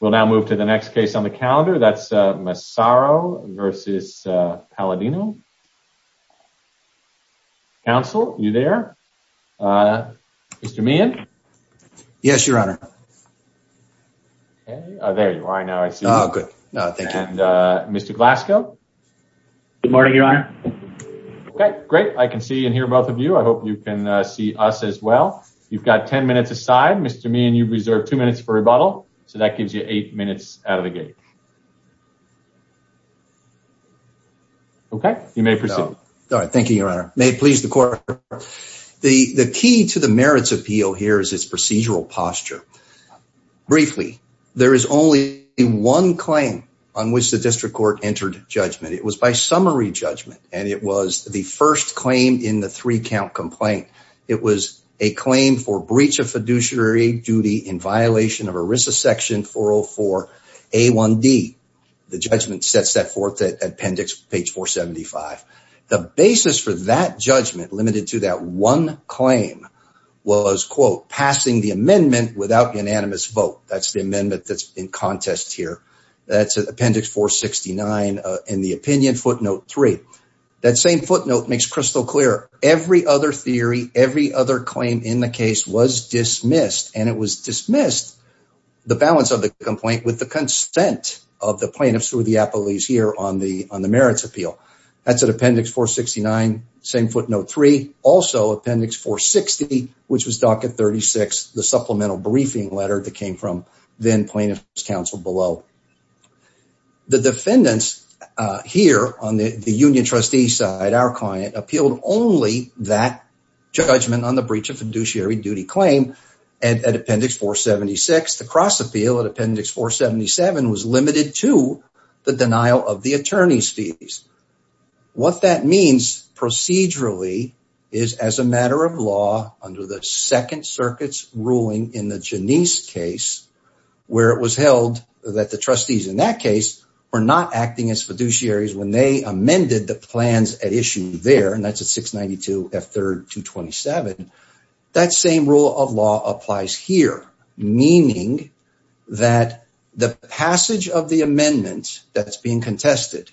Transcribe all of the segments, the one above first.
We'll now move to the next case on the calendar. That's Massaro versus Palladino. Counsel, are you there? Mr. Meehan? Yes, your honor. Okay, there you are. Now I see you. Good. Thank you. Mr. Glasgow? Good morning, your honor. Okay, great. I can see and hear both of you. I hope you can see us as well. You've got 10 minutes aside. Mr. Meehan, you've reserved two minutes for rebuttal, so that gives you eight minutes out of the gate. Okay, you may proceed. Thank you, your honor. May it please the court. The key to the merits appeal here is its procedural posture. Briefly, there is only one claim on which the district court entered judgment. It was by summary judgment, and it was the first claim in the three-count complaint. It was a claim for breach of fiduciary duty in violation of ERISA section 404 A1D. The judgment sets that forth at appendix page 475. The basis for that judgment limited to that one claim was, quote, passing the amendment without unanimous vote. That's the amendment that's in contest here. That's appendix 469 in the opinion footnote three. That same footnote makes crystal clear. Every other theory, every other claim in the case was dismissed, and it was dismissed, the balance of the complaint with the consent of the plaintiffs through the appellees here on the merits appeal. That's at appendix 469, same footnote three. Also, appendix 460, which was docket 36, the supplemental briefing letter that came from plaintiff's counsel below. The defendants here on the union trustee side, our client, appealed only that judgment on the breach of fiduciary duty claim at appendix 476. The cross appeal at appendix 477 was limited to the denial of the attorney's fees. What that means procedurally is as a matter of law under the second circuit's ruling in the Janisse case, where it was held that the trustees in that case were not acting as fiduciaries when they amended the plans at issue there, and that's at 692 F3 227. That same rule of law applies here, meaning that the passage of the amendment that's being contested,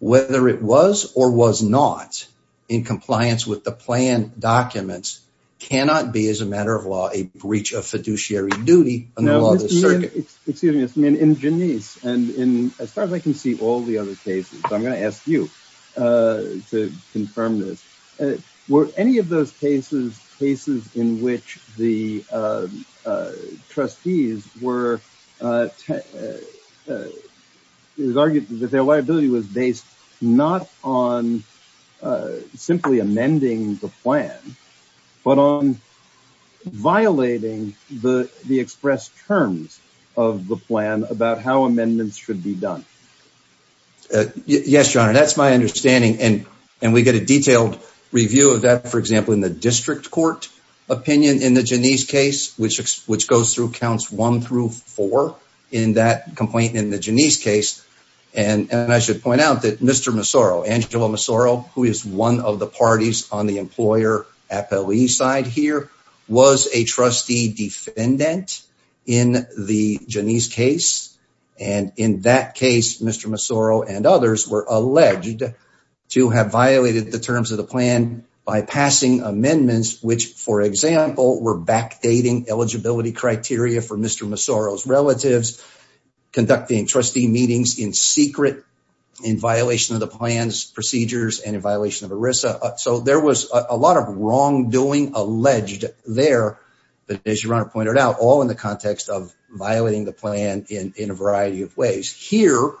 whether it was or was not in compliance with the plan documents, cannot be, as a matter of law, a breach of fiduciary duty. Excuse me, in Janisse, and as far as I can see all the other cases, I'm going to ask you to confirm this. Were any of those cases cases in which the trustees were tested? It was argued that their liability was based not on simply amending the plan, but on violating the expressed terms of the plan about how amendments should be done. Yes, your honor, that's my understanding, and we get a detailed review of that, for example, in the district court opinion in the Janisse case, which goes through counts one through four in that complaint in the Janisse case, and I should point out that Mr. Mossoro, Angela Mossoro, who is one of the parties on the employer appellee side here, was a trustee defendant in the Janisse case, and in that case, Mr. Mossoro and others were alleged to have violated the terms of the plan by passing amendments, which, for example, were backdating eligibility criteria for Mr. Mossoro's relatives, conducting trustee meetings in secret, in violation of the plan's procedures, and in violation of ERISA, so there was a lot of wrongdoing alleged there, but as your honor pointed out, all in the context of violating the plan in a variety of ways. Here,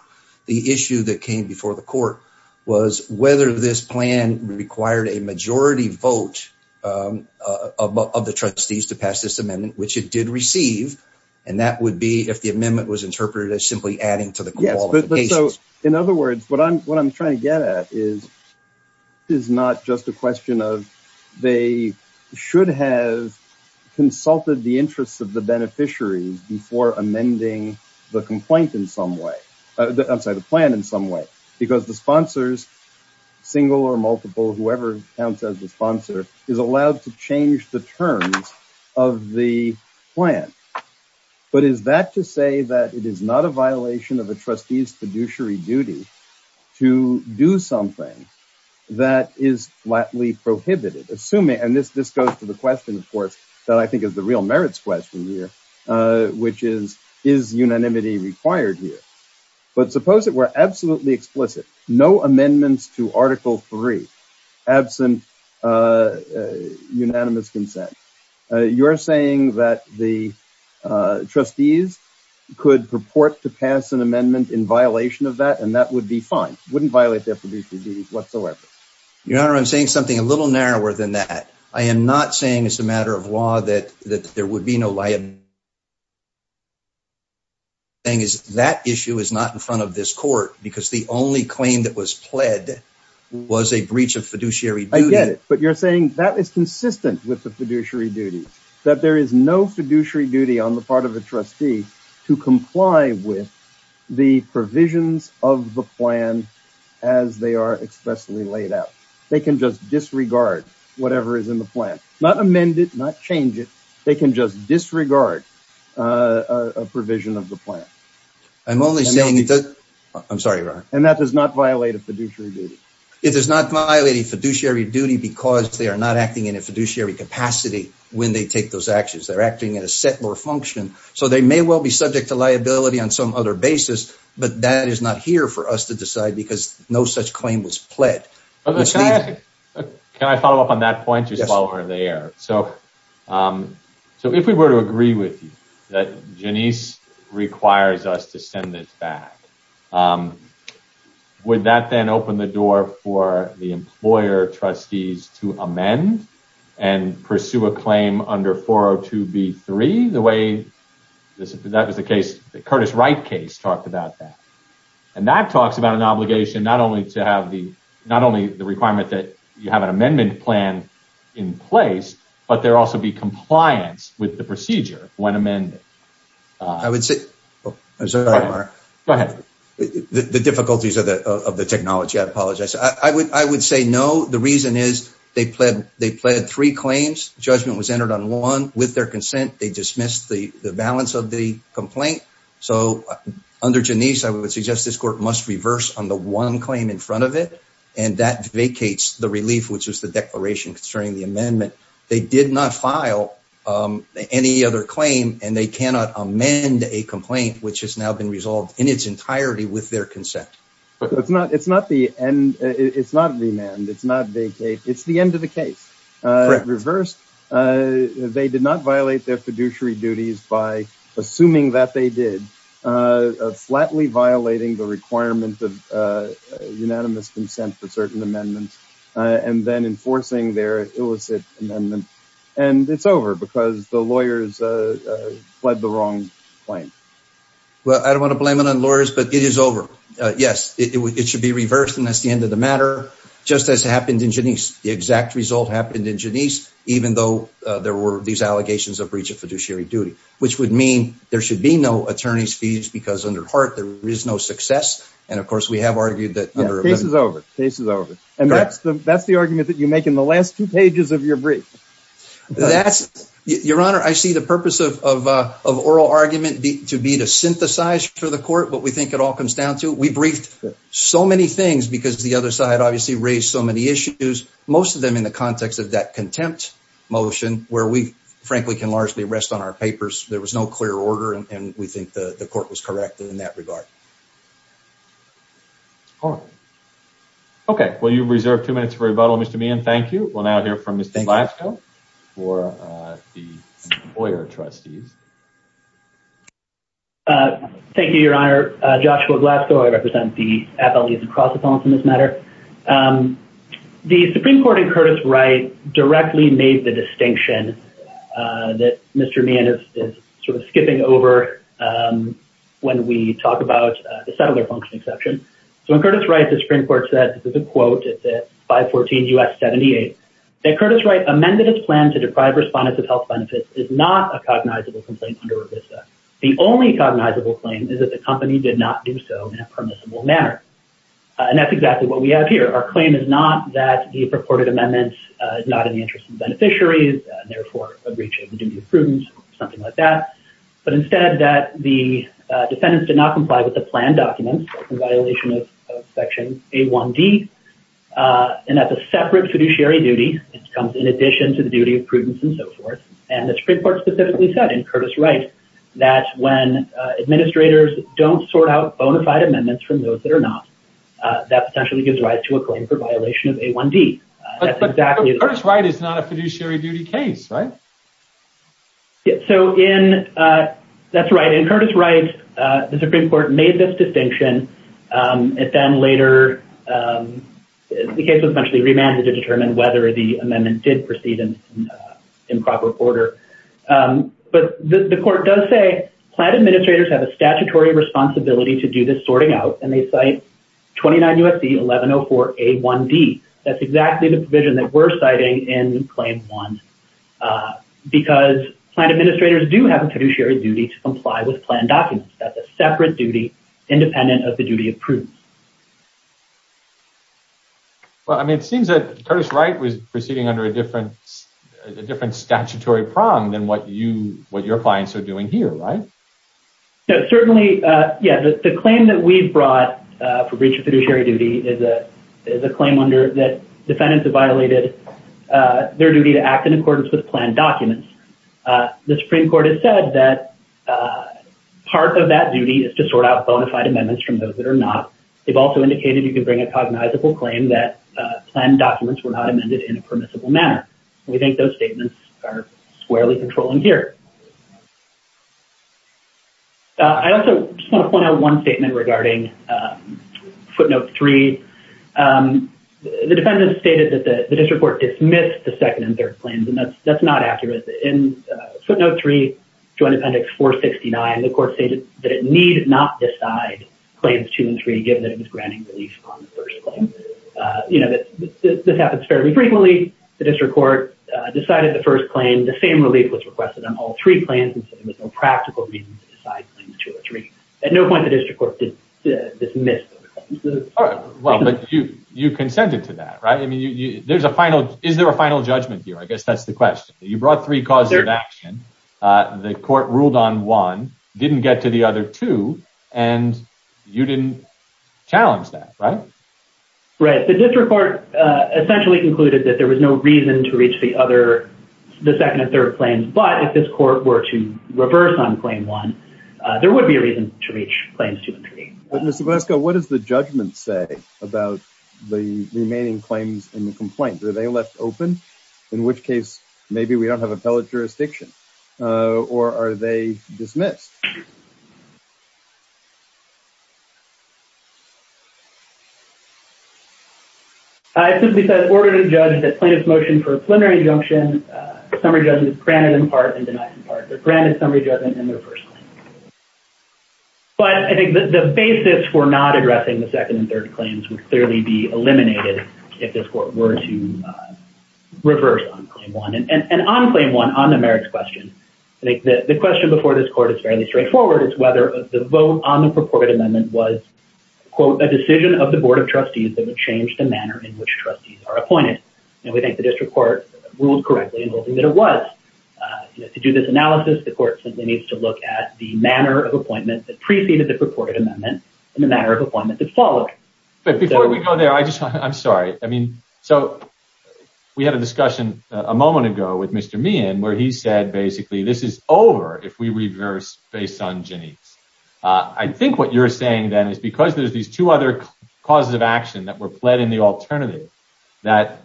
the issue that came before the court was whether this plan required a majority vote of the trustees to pass this amendment, which it did receive, and that would be if the amendment was interpreted as simply adding to the quality of the case. In other words, what I'm trying to get at is not just a question of they should have consulted the interests of the beneficiaries before amending the complaint in some way, I'm sorry, the plan in some way, because the sponsors, single or multiple, whoever counts as the sponsor, is allowed to change the terms of the plan, but is that to say that it is not a violation of a trustee's fiduciary duty to do something that is flatly prohibited, assuming, and this goes to the question, of course, that I think is the real merits question here, which is, is unanimity required here, but suppose it were absolutely explicit, no amendments to article three, absent unanimous consent. You're saying that the trustees could purport to pass an amendment in violation of that, and that would be fine, wouldn't violate their fiduciary duties whatsoever. Your honor, I'm saying something a little narrower than that. I am not saying it's a that issue is not in front of this court, because the only claim that was pled was a breach of fiduciary duty. I get it, but you're saying that is consistent with the fiduciary duty, that there is no fiduciary duty on the part of a trustee to comply with the provisions of the plan as they are expressly laid out. They can just disregard whatever is in the plan, not amend it, not change it. They can just disregard a provision of the plan. I'm only saying that, I'm sorry, your honor, and that does not violate a fiduciary duty. It does not violate a fiduciary duty, because they are not acting in a fiduciary capacity when they take those actions. They're acting at a set or function, so they may well be subject to liability on some other basis, but that is not here for us to decide, because no such claim was there. So if we were to agree with you that Janice requires us to send this back, would that then open the door for the employer trustees to amend and pursue a claim under 402b3, the way that was the case, the Curtis Wright case talked about that, and that talks about not only the requirement that you have an amendment plan in place, but there also be compliance with the procedure when amended. I would say, I'm sorry, Mark. Go ahead. The difficulties of the technology, I apologize. I would say no. The reason is they pled three claims. Judgment was entered on one. With their consent, they dismissed the balance of the one claim in front of it, and that vacates the relief, which was the declaration concerning the amendment. They did not file any other claim, and they cannot amend a complaint, which has now been resolved in its entirety with their consent. It's not the end. It's not remand. It's not vacate. It's the end of the case. Reverse. They did not violate their fiduciary duties by assuming that they did, flatly violating the requirement of unanimous consent for certain amendments, and then enforcing their illicit amendment, and it's over because the lawyers pled the wrong claim. Well, I don't want to blame it on lawyers, but it is over. Yes, it should be reversed, and that's the end of the matter, just as happened in Janisse. The exact result happened in Janisse, even though there were these allegations of breach of fiduciary duty, which would mean there should be no attorney's fees because under Hart, there is no success, and of course, we have argued that the case is over. The case is over, and that's the argument that you make in the last two pages of your brief. Your Honor, I see the purpose of oral argument to be to synthesize for the court what we think it all comes down to. We briefed so many things because the other side obviously raised so many issues, most of them in the context of that contempt motion where we frankly can rest on our papers. There was no clear order, and we think the court was correct in that regard. Okay. Well, you've reserved two minutes for rebuttal, Mr. Meehan. Thank you. We'll now hear from Mr. Glasgow for the lawyer trustees. Thank you, Your Honor. Joshua Glasgow. I represent the appellees across the phone for this matter. The Supreme Court in Curtis Wright directly made the distinction that Mr. Meehan is sort of skipping over when we talk about the settler function exception. So in Curtis Wright, the Supreme Court said, this is a quote at 514 U.S. 78, that Curtis Wright amended his plan to deprive respondents of health benefits is not a cognizable complaint under revista. The only cognizable claim is that the company did not do so in a permissible manner, and that's exactly what we have here. Our claim is not that the purported not in the interest of beneficiaries, and therefore breaching the duty of prudence or something like that, but instead that the defendants did not comply with the planned documents in violation of section A1D, and that's a separate fiduciary duty. It comes in addition to the duty of prudence and so forth, and the Supreme Court specifically said in Curtis Wright that when administrators don't sort out bona fide amendments from those that are not, that potentially gives rise to a claim for violation of A1D. But Curtis Wright is not a fiduciary duty case, right? Yeah, so in, that's right, in Curtis Wright, the Supreme Court made this distinction. It then later, the case was eventually remanded to determine whether the amendment did proceed in proper order, but the court does say, plant administrators have a statutory responsibility to do this sorting out, and they cite 29 U.S.C. 1104 A1D. That's exactly the provision that we're citing in Claim 1, because plant administrators do have a fiduciary duty to comply with planned documents. That's a separate duty independent of the duty of prudence. Well, I mean, it seems that Curtis Wright was proceeding under a different, a different statutory prong than what you, what your clients are doing here, right? No, certainly, yeah, the claim that we've brought for breach of fiduciary duty is a, is a claim under that defendants have violated their duty to act in accordance with planned documents. The Supreme Court has said that part of that duty is to sort out bona fide amendments from those that are not. They've also indicated you can bring a cognizable claim that planned documents were not amended in a permissible manner. We think those statements are squarely controlling here. I also just want to point out one statement regarding footnote three. The defendant stated that the district court dismissed the second and third claims, and that's not accurate. In footnote three, Joint Appendix 469, the court stated that it need not decide claims two and three, given that it was granting relief on the first claim. You know, this happens fairly frequently. The district court decided the first claim, the same relief was requested on all three claims, and so there was no practical reason to decide claims two or three. At no point, the district court did dismiss those claims. Well, but you, you consented to that, right? I mean, you, you, there's a final, is there a final judgment here? I guess that's the question. You brought three causes of action. The court ruled on one, didn't get to the other two, and you didn't challenge that, right? Right. The district court essentially concluded that there was no reason to reach the other, the second and third claims, but if this court were to reverse on claim one, there would be a reason to reach claims two and three. But Mr. Breska, what does the judgment say about the remaining claims in the complaint? Were they left open? In which case, maybe we don't have appellate jurisdiction, or are they dismissed? I simply said, in order to judge the plaintiff's motion for a preliminary injunction, summary judgment is granted in part and denied in part. They're granted summary judgment in their first claim. But I think that the basis for not addressing the second and third claims would clearly be eliminated if this court were to reverse on claim one. And on claim one, on the merits question, the question before this court is fairly straightforward. It's whether the vote on the purported amendment was, quote, a decision of the board of trustees that would change the manner in which trustees are appointed. And we think the district court ruled correctly in holding that it was. To do this analysis, the court simply needs to look at the manner of appointment that preceded the purported amendment and the manner of appointment that followed. But before we go there, I just, I'm sorry. I mean, so we had a discussion a moment ago with Mr. Meehan where he said, basically, this is over if we reverse based on Janice. I think what you're saying then is because there's these two other causes of action that were pled in the alternative that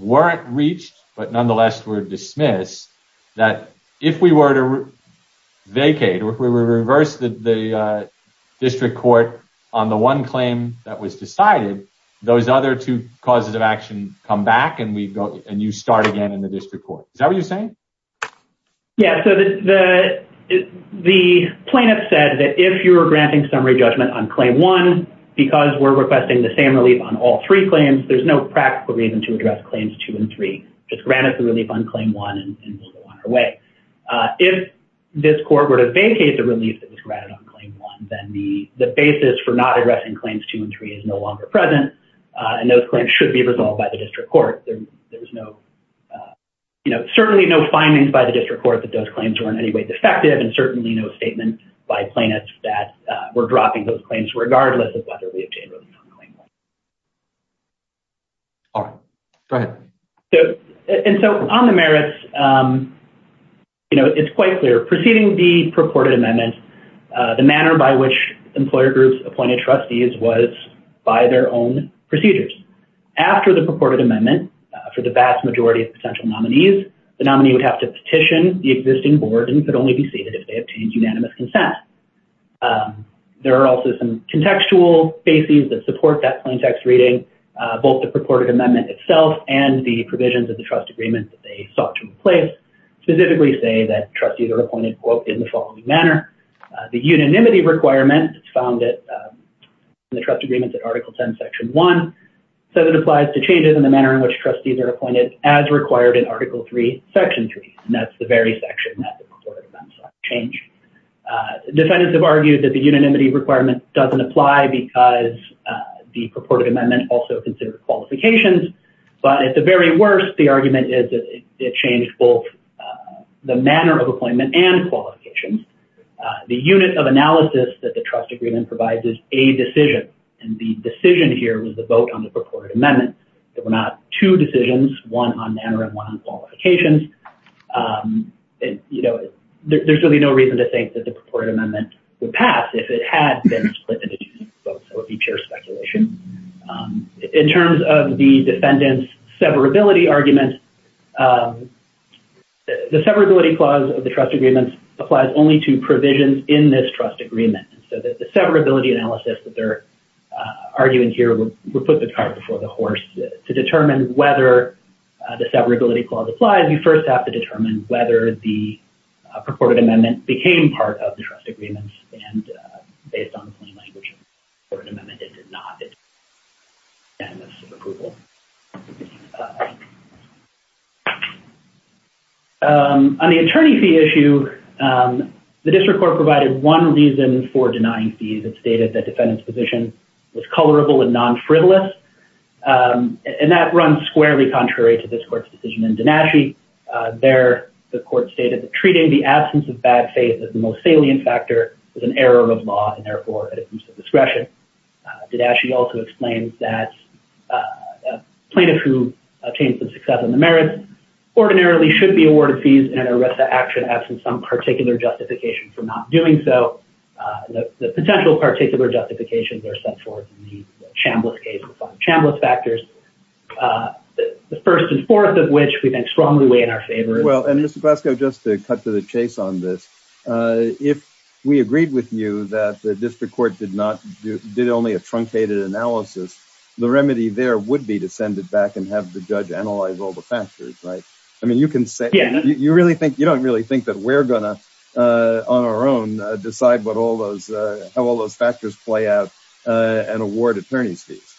weren't reached, but nonetheless were dismissed, that if we were to vacate, or if we were to reverse the district court on the one claim that was decided, those other two start again in the district court. Is that what you're saying? Yeah, so the plaintiff said that if you're granting summary judgment on claim one, because we're requesting the same relief on all three claims, there's no practical reason to address claims two and three. Just grant us the relief on claim one and we'll go on our way. If this court were to vacate the relief that was granted on claim one, then the basis for not addressing claims two and three is no longer present, and those claims should be resolved by the district court. There was no, you know, certainly no findings by the district court that those claims were in any way defective, and certainly no statement by plaintiffs that were dropping those claims regardless of whether we obtained relief on claim one. All right, go ahead. So, and so on the merits, you know, it's quite clear. Preceding the purported amendment, the manner by which employer groups appointed trustees was by their own procedures. After the purported amendment, for the vast majority of potential nominees, the nominee would have to petition the existing board and could only be seated if they obtained unanimous consent. There are also some contextual bases that support that plain text reading. Both the purported amendment itself and the provisions of the trust agreement that they sought to replace specifically say that trustees are appointed, quote, in the following manner. The unanimity requirement is found in the trust agreements at Article 10, Section 1, so that it applies to changes in the manner in which trustees are appointed as required in Article 3, Section 3, and that's the very section that the purported amendments changed. Defendants have argued that the unanimity requirement doesn't apply because the purported amendment also considered qualifications, but at the very worst, the argument is that it changed both the manner of appointment and qualifications. The unit of analysis that the trust agreement provides is a decision, and the decision here was the vote on the purported amendment. There were not two decisions, one on manner and one on qualifications. There's really no reason to think that the purported amendment would pass if it had been split into two votes. That would be pure speculation. In terms of the defendant's severability argument, the severability clause of the trust agreement applies only to provisions in this trust agreement, so that the severability analysis that they're arguing here would put the cart before the horse. To determine whether the severability clause applies, you first have to determine whether the purported amendment became part of the trust agreement, and based on the plain language of the purported amendment, it did not. On the attorney fee issue, the district court provided one reason for denying fees. It stated that defendant's position was colorable and non-frivolous, and that runs squarely contrary to this court's decision in Donati. There, the court stated that treating the absence of bad faith as the most salient factor was an error of law, and therefore at a person's discretion. Didashi also explains that a plaintiff who obtained some success on the merits ordinarily should be awarded fees in an arrest of action absent some particular justification for not doing so. The potential particular justifications are set forth in the Chambliss case, the five Chambliss factors, the first and fourth of which we then strongly weigh in our favor. Well, and Mr. Chase on this, if we agreed with you that the district court did not, did only a truncated analysis, the remedy there would be to send it back and have the judge analyze all the factors, right? I mean, you can say, you really think, you don't really think that we're gonna on our own decide what all those, how all those factors play out and award attorney's fees.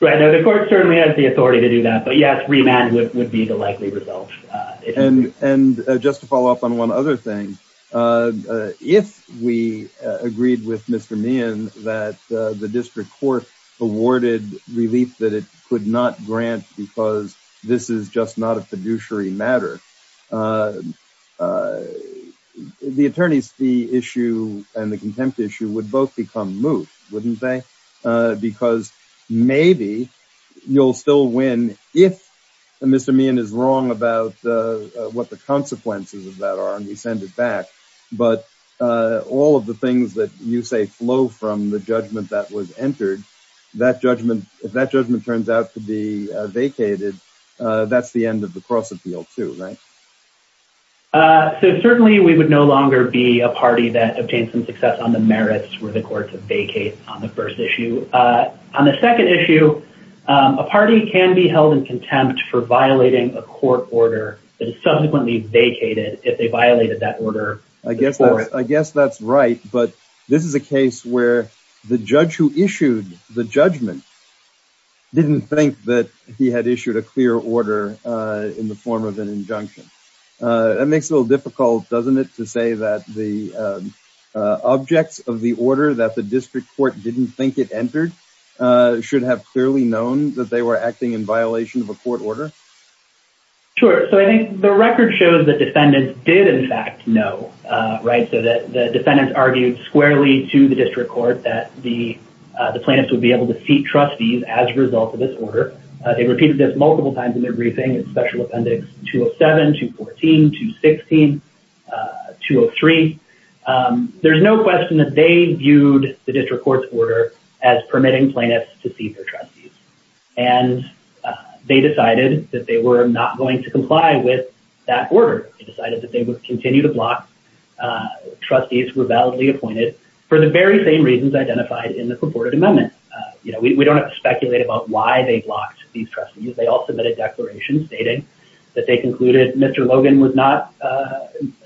Right, now the court certainly has the authority to do that, but yes, remand would be the likely result. And just to follow up on one other thing, if we agreed with Mr. Meehan that the district court awarded relief that it could not grant because this is just not a fiduciary matter, the attorney's fee issue and the contempt issue would both become moot, wouldn't they? Because maybe you'll still win if Mr. Meehan is wrong about what the consequences of that are and you send it back. But all of the things that you say flow from the judgment that was entered, that judgment, if that judgment turns out to be vacated, that's the end of the cross appeal too, right? So certainly we would no longer be a party that obtained some success on the merits for the court to vacate on the first issue. On the second issue, a party can be held in contempt for violating a court order that is subsequently vacated if they violated that order. I guess that's right, but this is a case where the judge who issued the judgment didn't think that he had issued a clear order in the form of an injunction. That makes it a little difficult, doesn't it, to say that the objects of the order that the district court didn't think it entered should have clearly known that they were acting in violation of a court order? Sure. So I think the record shows that defendants did in fact know, right? So that the defendants argued squarely to the district court that the plaintiffs would be able to seat trustees as a result of this order. They repeated this multiple times in their briefing, in special appendix 207, 214, 216, 203. There's no question that they viewed the district court's order as permitting plaintiffs to seat their trustees. And they decided that they were not going to comply with that order. They decided that they would continue to block trustees who were validly appointed for the very same reasons identified in the purported amendment. You know, we don't have to speculate about why they blocked these trustees. They all submitted declarations stating that they concluded Mr. Logan was not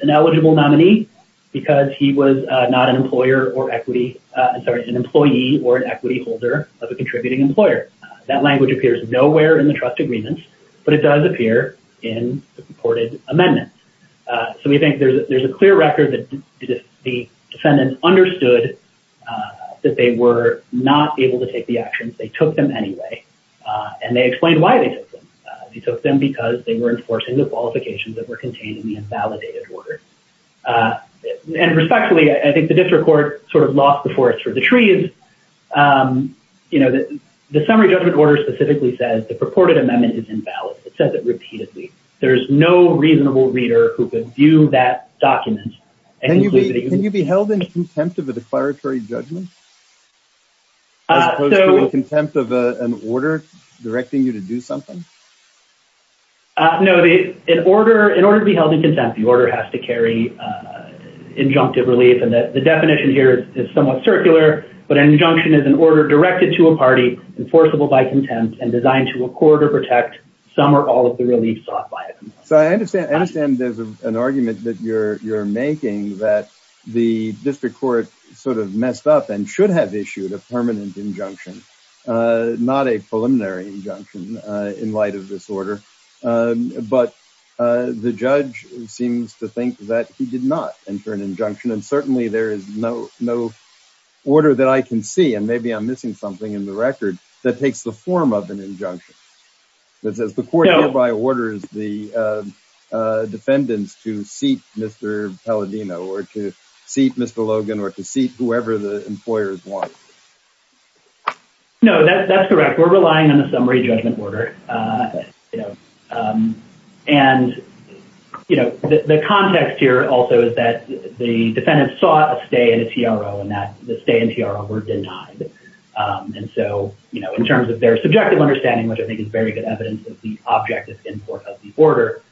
an eligible nominee because he was not an employer or equity, sorry, an employee or an equity holder of a contributing employer. That language appears nowhere in the trust agreements, but it does appear in the purported amendment. So we think there's a clear record that the defendants understood that they were not able to take the actions. They took them anyway. And they explained why they took them. They took them because they were enforcing the qualifications that were contained in the invalidated order. And respectfully, I think the district court sort of lost the forest for the trees. You know, the summary judgment order specifically says the purported amendment is invalid. It says it repeatedly. There's no reasonable reader who could view that document. Can you be held in contempt of a declaratory judgment? As opposed to in contempt of an order directing you to do something? No. In order to be held in contempt, the order has to carry injunctive relief. And the definition here is somewhat circular. But an injunction is an order directed to a party, enforceable by contempt, and designed to record or protect some or all of the relief sought by it. So I understand there's an argument that you're making that the district court sort of messed up and should have issued a permanent injunction, not a preliminary injunction in light of this order. But the judge seems to think that he did not enter an injunction. And certainly there is no order that I can see, and maybe I'm missing something in the record, that takes the form of an injunction that says the court hereby orders the defendants to seat Mr. Palladino or to seat Mr. Logan or to seat whoever the employers want. No, that's correct. We're relying on the summary judgment order. And the context here also is that the defendants saw a stay in a TRO and that the stay in TRO were denied. And so in terms of their subjective understanding, which I think is very good evidence of the objective import of the order,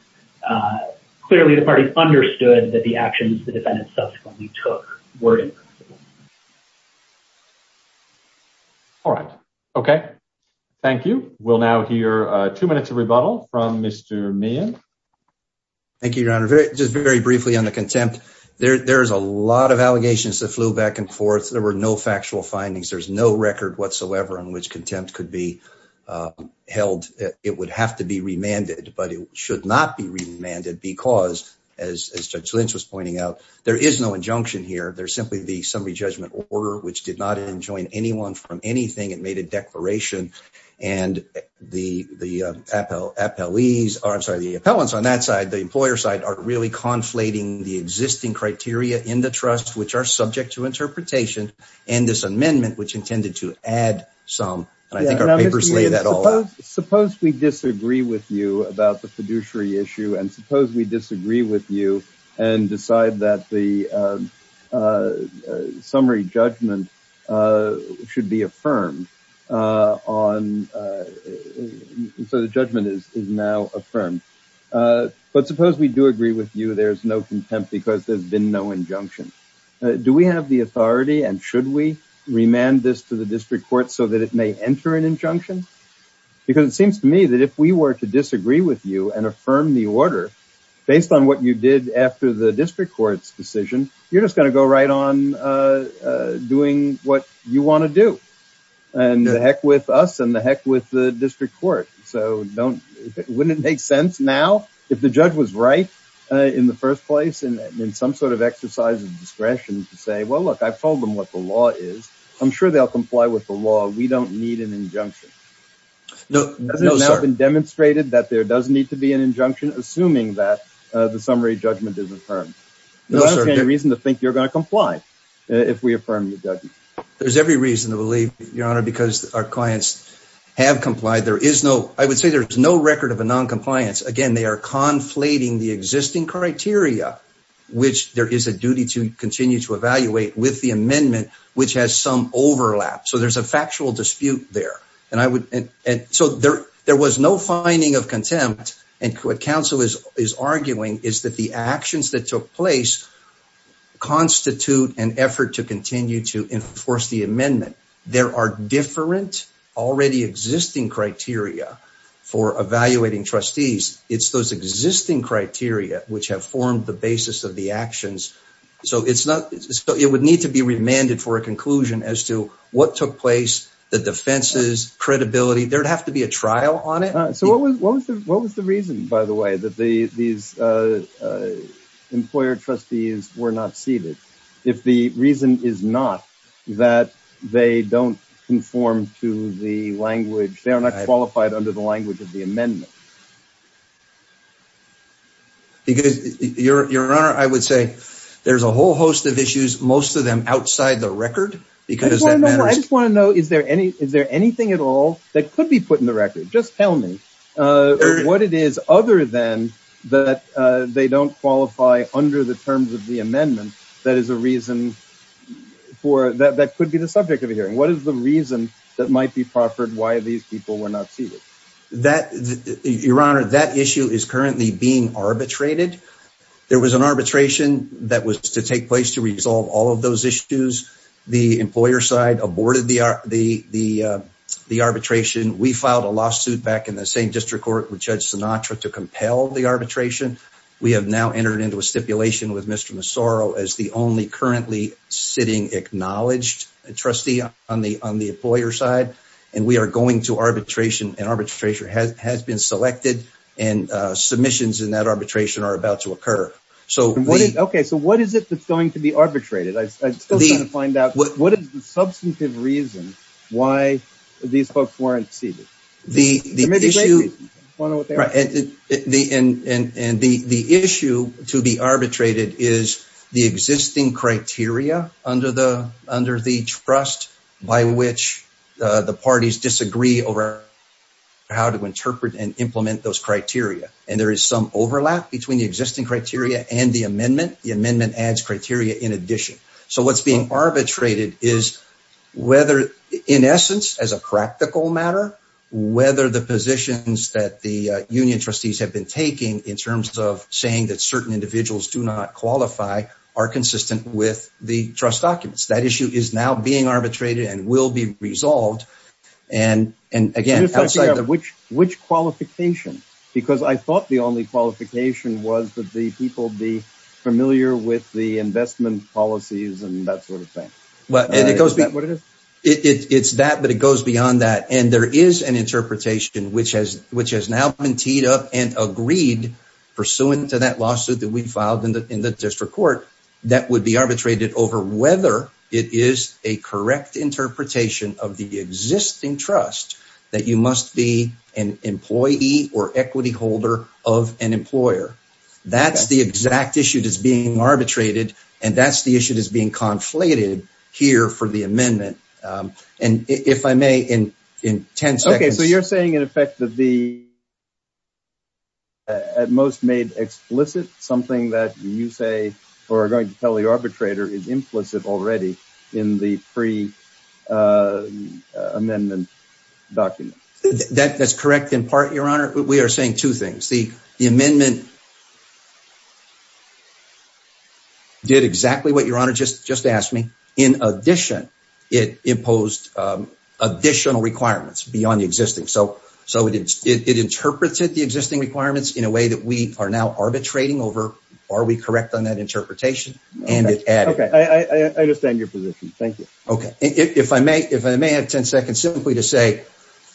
clearly the parties understood that the actions the defendants took were not appropriate. All right. Okay. Thank you. We'll now hear two minutes of rebuttal from Mr. Meehan. Thank you, Your Honor. Just very briefly on the contempt. There's a lot of allegations that flew back and forth. There were no factual findings. There's no record whatsoever on which contempt could be held. It would have to be remanded, but it should not be remanded because, as Judge Lynch was pointing out, there is no injunction here. There's simply the summary judgment order, which did not enjoin anyone from anything. It made a declaration. And the appellees, or I'm sorry, the appellants on that side, the employer side, are really conflating the existing criteria in the trust, which are subject to interpretation, and this amendment, which intended to add some. And I think our papers lay that all out. Suppose we disagree with you about the fiduciary issue and suppose we disagree with you and decide that the summary judgment should be affirmed on – so the judgment is now affirmed. But suppose we do agree with you there's no contempt because there's been no injunction. Do we have the authority and should we remand this to the district court so that it may enter an injunction? Because it seems to me that if we were to disagree with you and affirm the order, based on what you did after the district court's decision, you're just going to go right on doing what you want to do. And to heck with us and to heck with the district court. So don't – wouldn't it make sense now, if the judge was right in the first place and in some sort of exercise of discretion, to say, well, look, I've told them what the law is. I'm sure they'll comply with the law. We don't need an injunction. Hasn't it now been demonstrated that there does need to be an injunction, assuming that the summary judgment is affirmed? No, sir. Is there any reason to think you're going to comply if we affirm your judgment? There's every reason to believe, Your Honor, because our clients have complied. There is no – I would say there's no record of a noncompliance. Again, they are conflating the existing criteria, which there is a duty to continue to evaluate with the amendment, which has some overlap. So there's a factual dispute there. And I would – and so there was no finding of contempt, and what counsel is arguing is that the actions that took place constitute an effort to continue to enforce the amendment. There are different, already existing criteria for evaluating trustees. It's those existing criteria which have formed the basis of the actions. So it's not – so it would need to be remanded for a conclusion as to what took place, the defenses, credibility. There'd have to be a trial on it. So what was the reason, by the way, that these employer trustees were not seated, if the reason is not that they don't conform to the language – they are not qualified under the language of the amendment? Because, Your Honor, I would say there's a whole host of issues, most of them outside the record. I just want to know, is there any – is there anything at all that could be put in the record? Just tell me what it is, other than that they don't qualify under the terms of the amendment, that is a reason for – that could be the subject of a hearing. What is the reason that might be proffered why these people were not seated? That – Your Honor, that issue is currently being arbitrated. There was an arbitration that was to take place to resolve all of those issues. The employer side aborted the arbitration. We filed a lawsuit back in the same district court with Judge Sinatra to compel the arbitration. We have now entered into a stipulation with Mr. Massaro as the only currently sitting acknowledged trustee on the employer side, and we are going to arbitration, and arbitration has been selected, and submissions in that arbitration are about to occur. So what is – okay, so what is it that's going to be arbitrated? I'm still trying to find out, what is the substantive reason why these folks weren't seated? The issue – and the issue to be arbitrated is the existing criteria under the trust by which the parties disagree over how to interpret and implement those criteria, and there is some overlap between the existing criteria and the amendment. The amendment adds criteria in addition. So what's being arbitrated is whether, in essence, as a practical matter, whether the positions that the union trustees have been taking in terms of saying that certain individuals do not qualify are consistent with the trust documents. That issue is now being resolved, and again, outside the – Which qualification? Because I thought the only qualification was that the people be familiar with the investment policies and that sort of thing. Well, and it goes – Is that what it is? It's that, but it goes beyond that, and there is an interpretation which has now been teed up and agreed pursuant to that lawsuit that we filed in the district court that would be arbitrated over whether it is a correct interpretation of the existing trust that you must be an employee or equity holder of an employer. That's the exact issue that's being arbitrated, and that's the issue that's being conflated here for the amendment. And if I may, in 10 seconds – Okay. So you're saying, in effect, that the – At most made explicit, something that you say or are going to tell the arbitrator is implicit already in the pre-amendment document? That's correct in part, Your Honor. We are saying two things. The amendment did exactly what Your Honor just asked me. In addition, it imposed additional requirements beyond the existing. So it interpreted the existing requirements in a way that we are now arbitrating over are we correct on that interpretation, and it added – Okay. I understand your position. Thank you. Okay. If I may have 10 seconds simply to say,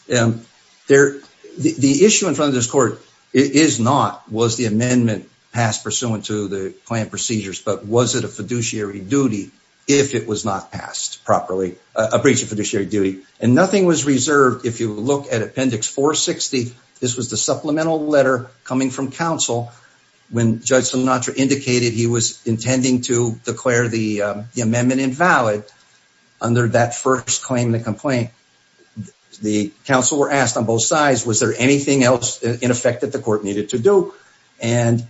the issue in front of this court is not was the amendment passed pursuant to the planned procedures, but was it a fiduciary duty if it was not passed properly, a breach of fiduciary duty. And nothing was reserved. If you look at Appendix 460, this was the supplemental letter coming from counsel when Judge Sinatra indicated he was intending to declare the amendment invalid under that first claim, the complaint. The counsel were asked on both sides, was there anything else in effect that the court needed to do? And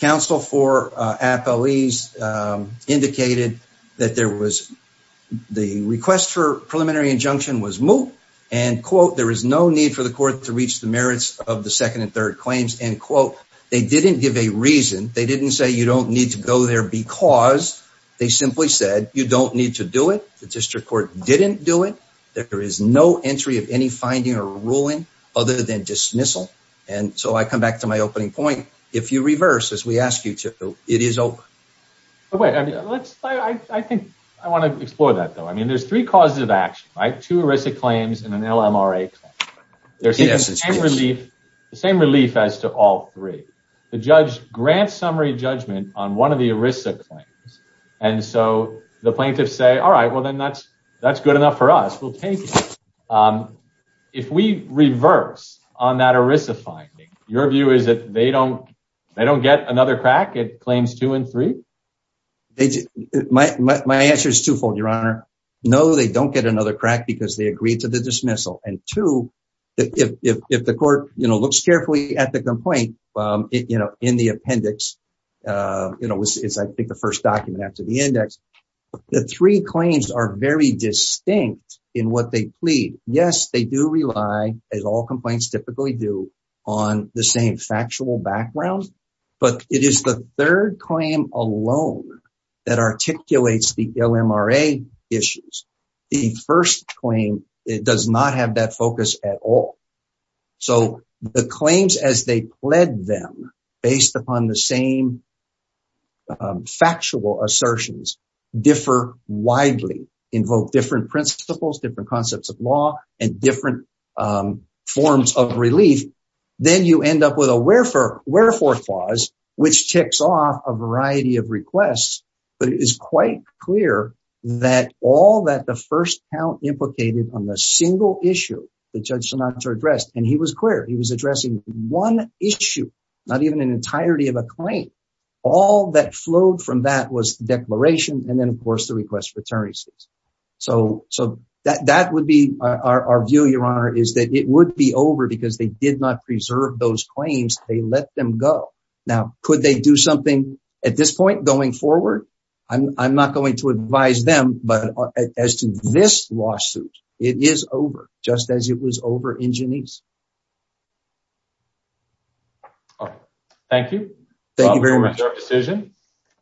counsel for appellees indicated that there was the request for preliminary injunction was moot and, quote, there is no need for the court to reach the merits of the second and third claims, end quote. They didn't give a reason. They didn't say you don't need to go there because they simply said you don't need to do it. The district court didn't do it. There is no entry of any finding or ruling other than dismissal. And so I come back to my opening point. If you reverse, as we ask you to, it is open. I think I want to explore that, though. I mean, there's three causes of action, right? Two ERISA claims and an LMRA claim. There's the same relief as to all three. The judge grants summary judgment on one of the ERISA claims. And so the plaintiffs say, all right, well, then that's good enough for us. We'll take it. If we reverse on that ERISA finding, your view is that they don't get another crack at claims two and three? My answer is twofold, Your Honor. No, they don't get another crack because they agreed to the dismissal. And two, if the court looks carefully at the complaint in the appendix, you know, which is, I think, the first document after the index, the three claims are very distinct in what they plead. Yes, they do rely, as all complaints typically do, on the same factual background. But it is the third claim alone that articulates the LMRA issues. The first claim does not have that focus at all. So the claims as they pledged them based upon the same factual assertions differ widely, invoke different principles, different concepts of law, and different forms of relief. Then you end up with a wherefore clause, which ticks off a variety of requests. But it is quite clear that all that the first count implicated on the single issue that Judge Sinatra addressed, and he was clear, he was addressing one issue, not even an entirety of a claim. All that flowed from that was the declaration and then, of course, the request for attorneyship. So that would be our view, Your Honor, is that it would be over because they did not preserve those claims. They let them go. Now, could they do something at this point going forward? I'm not going to advise them, but as to this lawsuit, it is over, just as it was over in Genesee. Thank you. Thank you very much for your decision.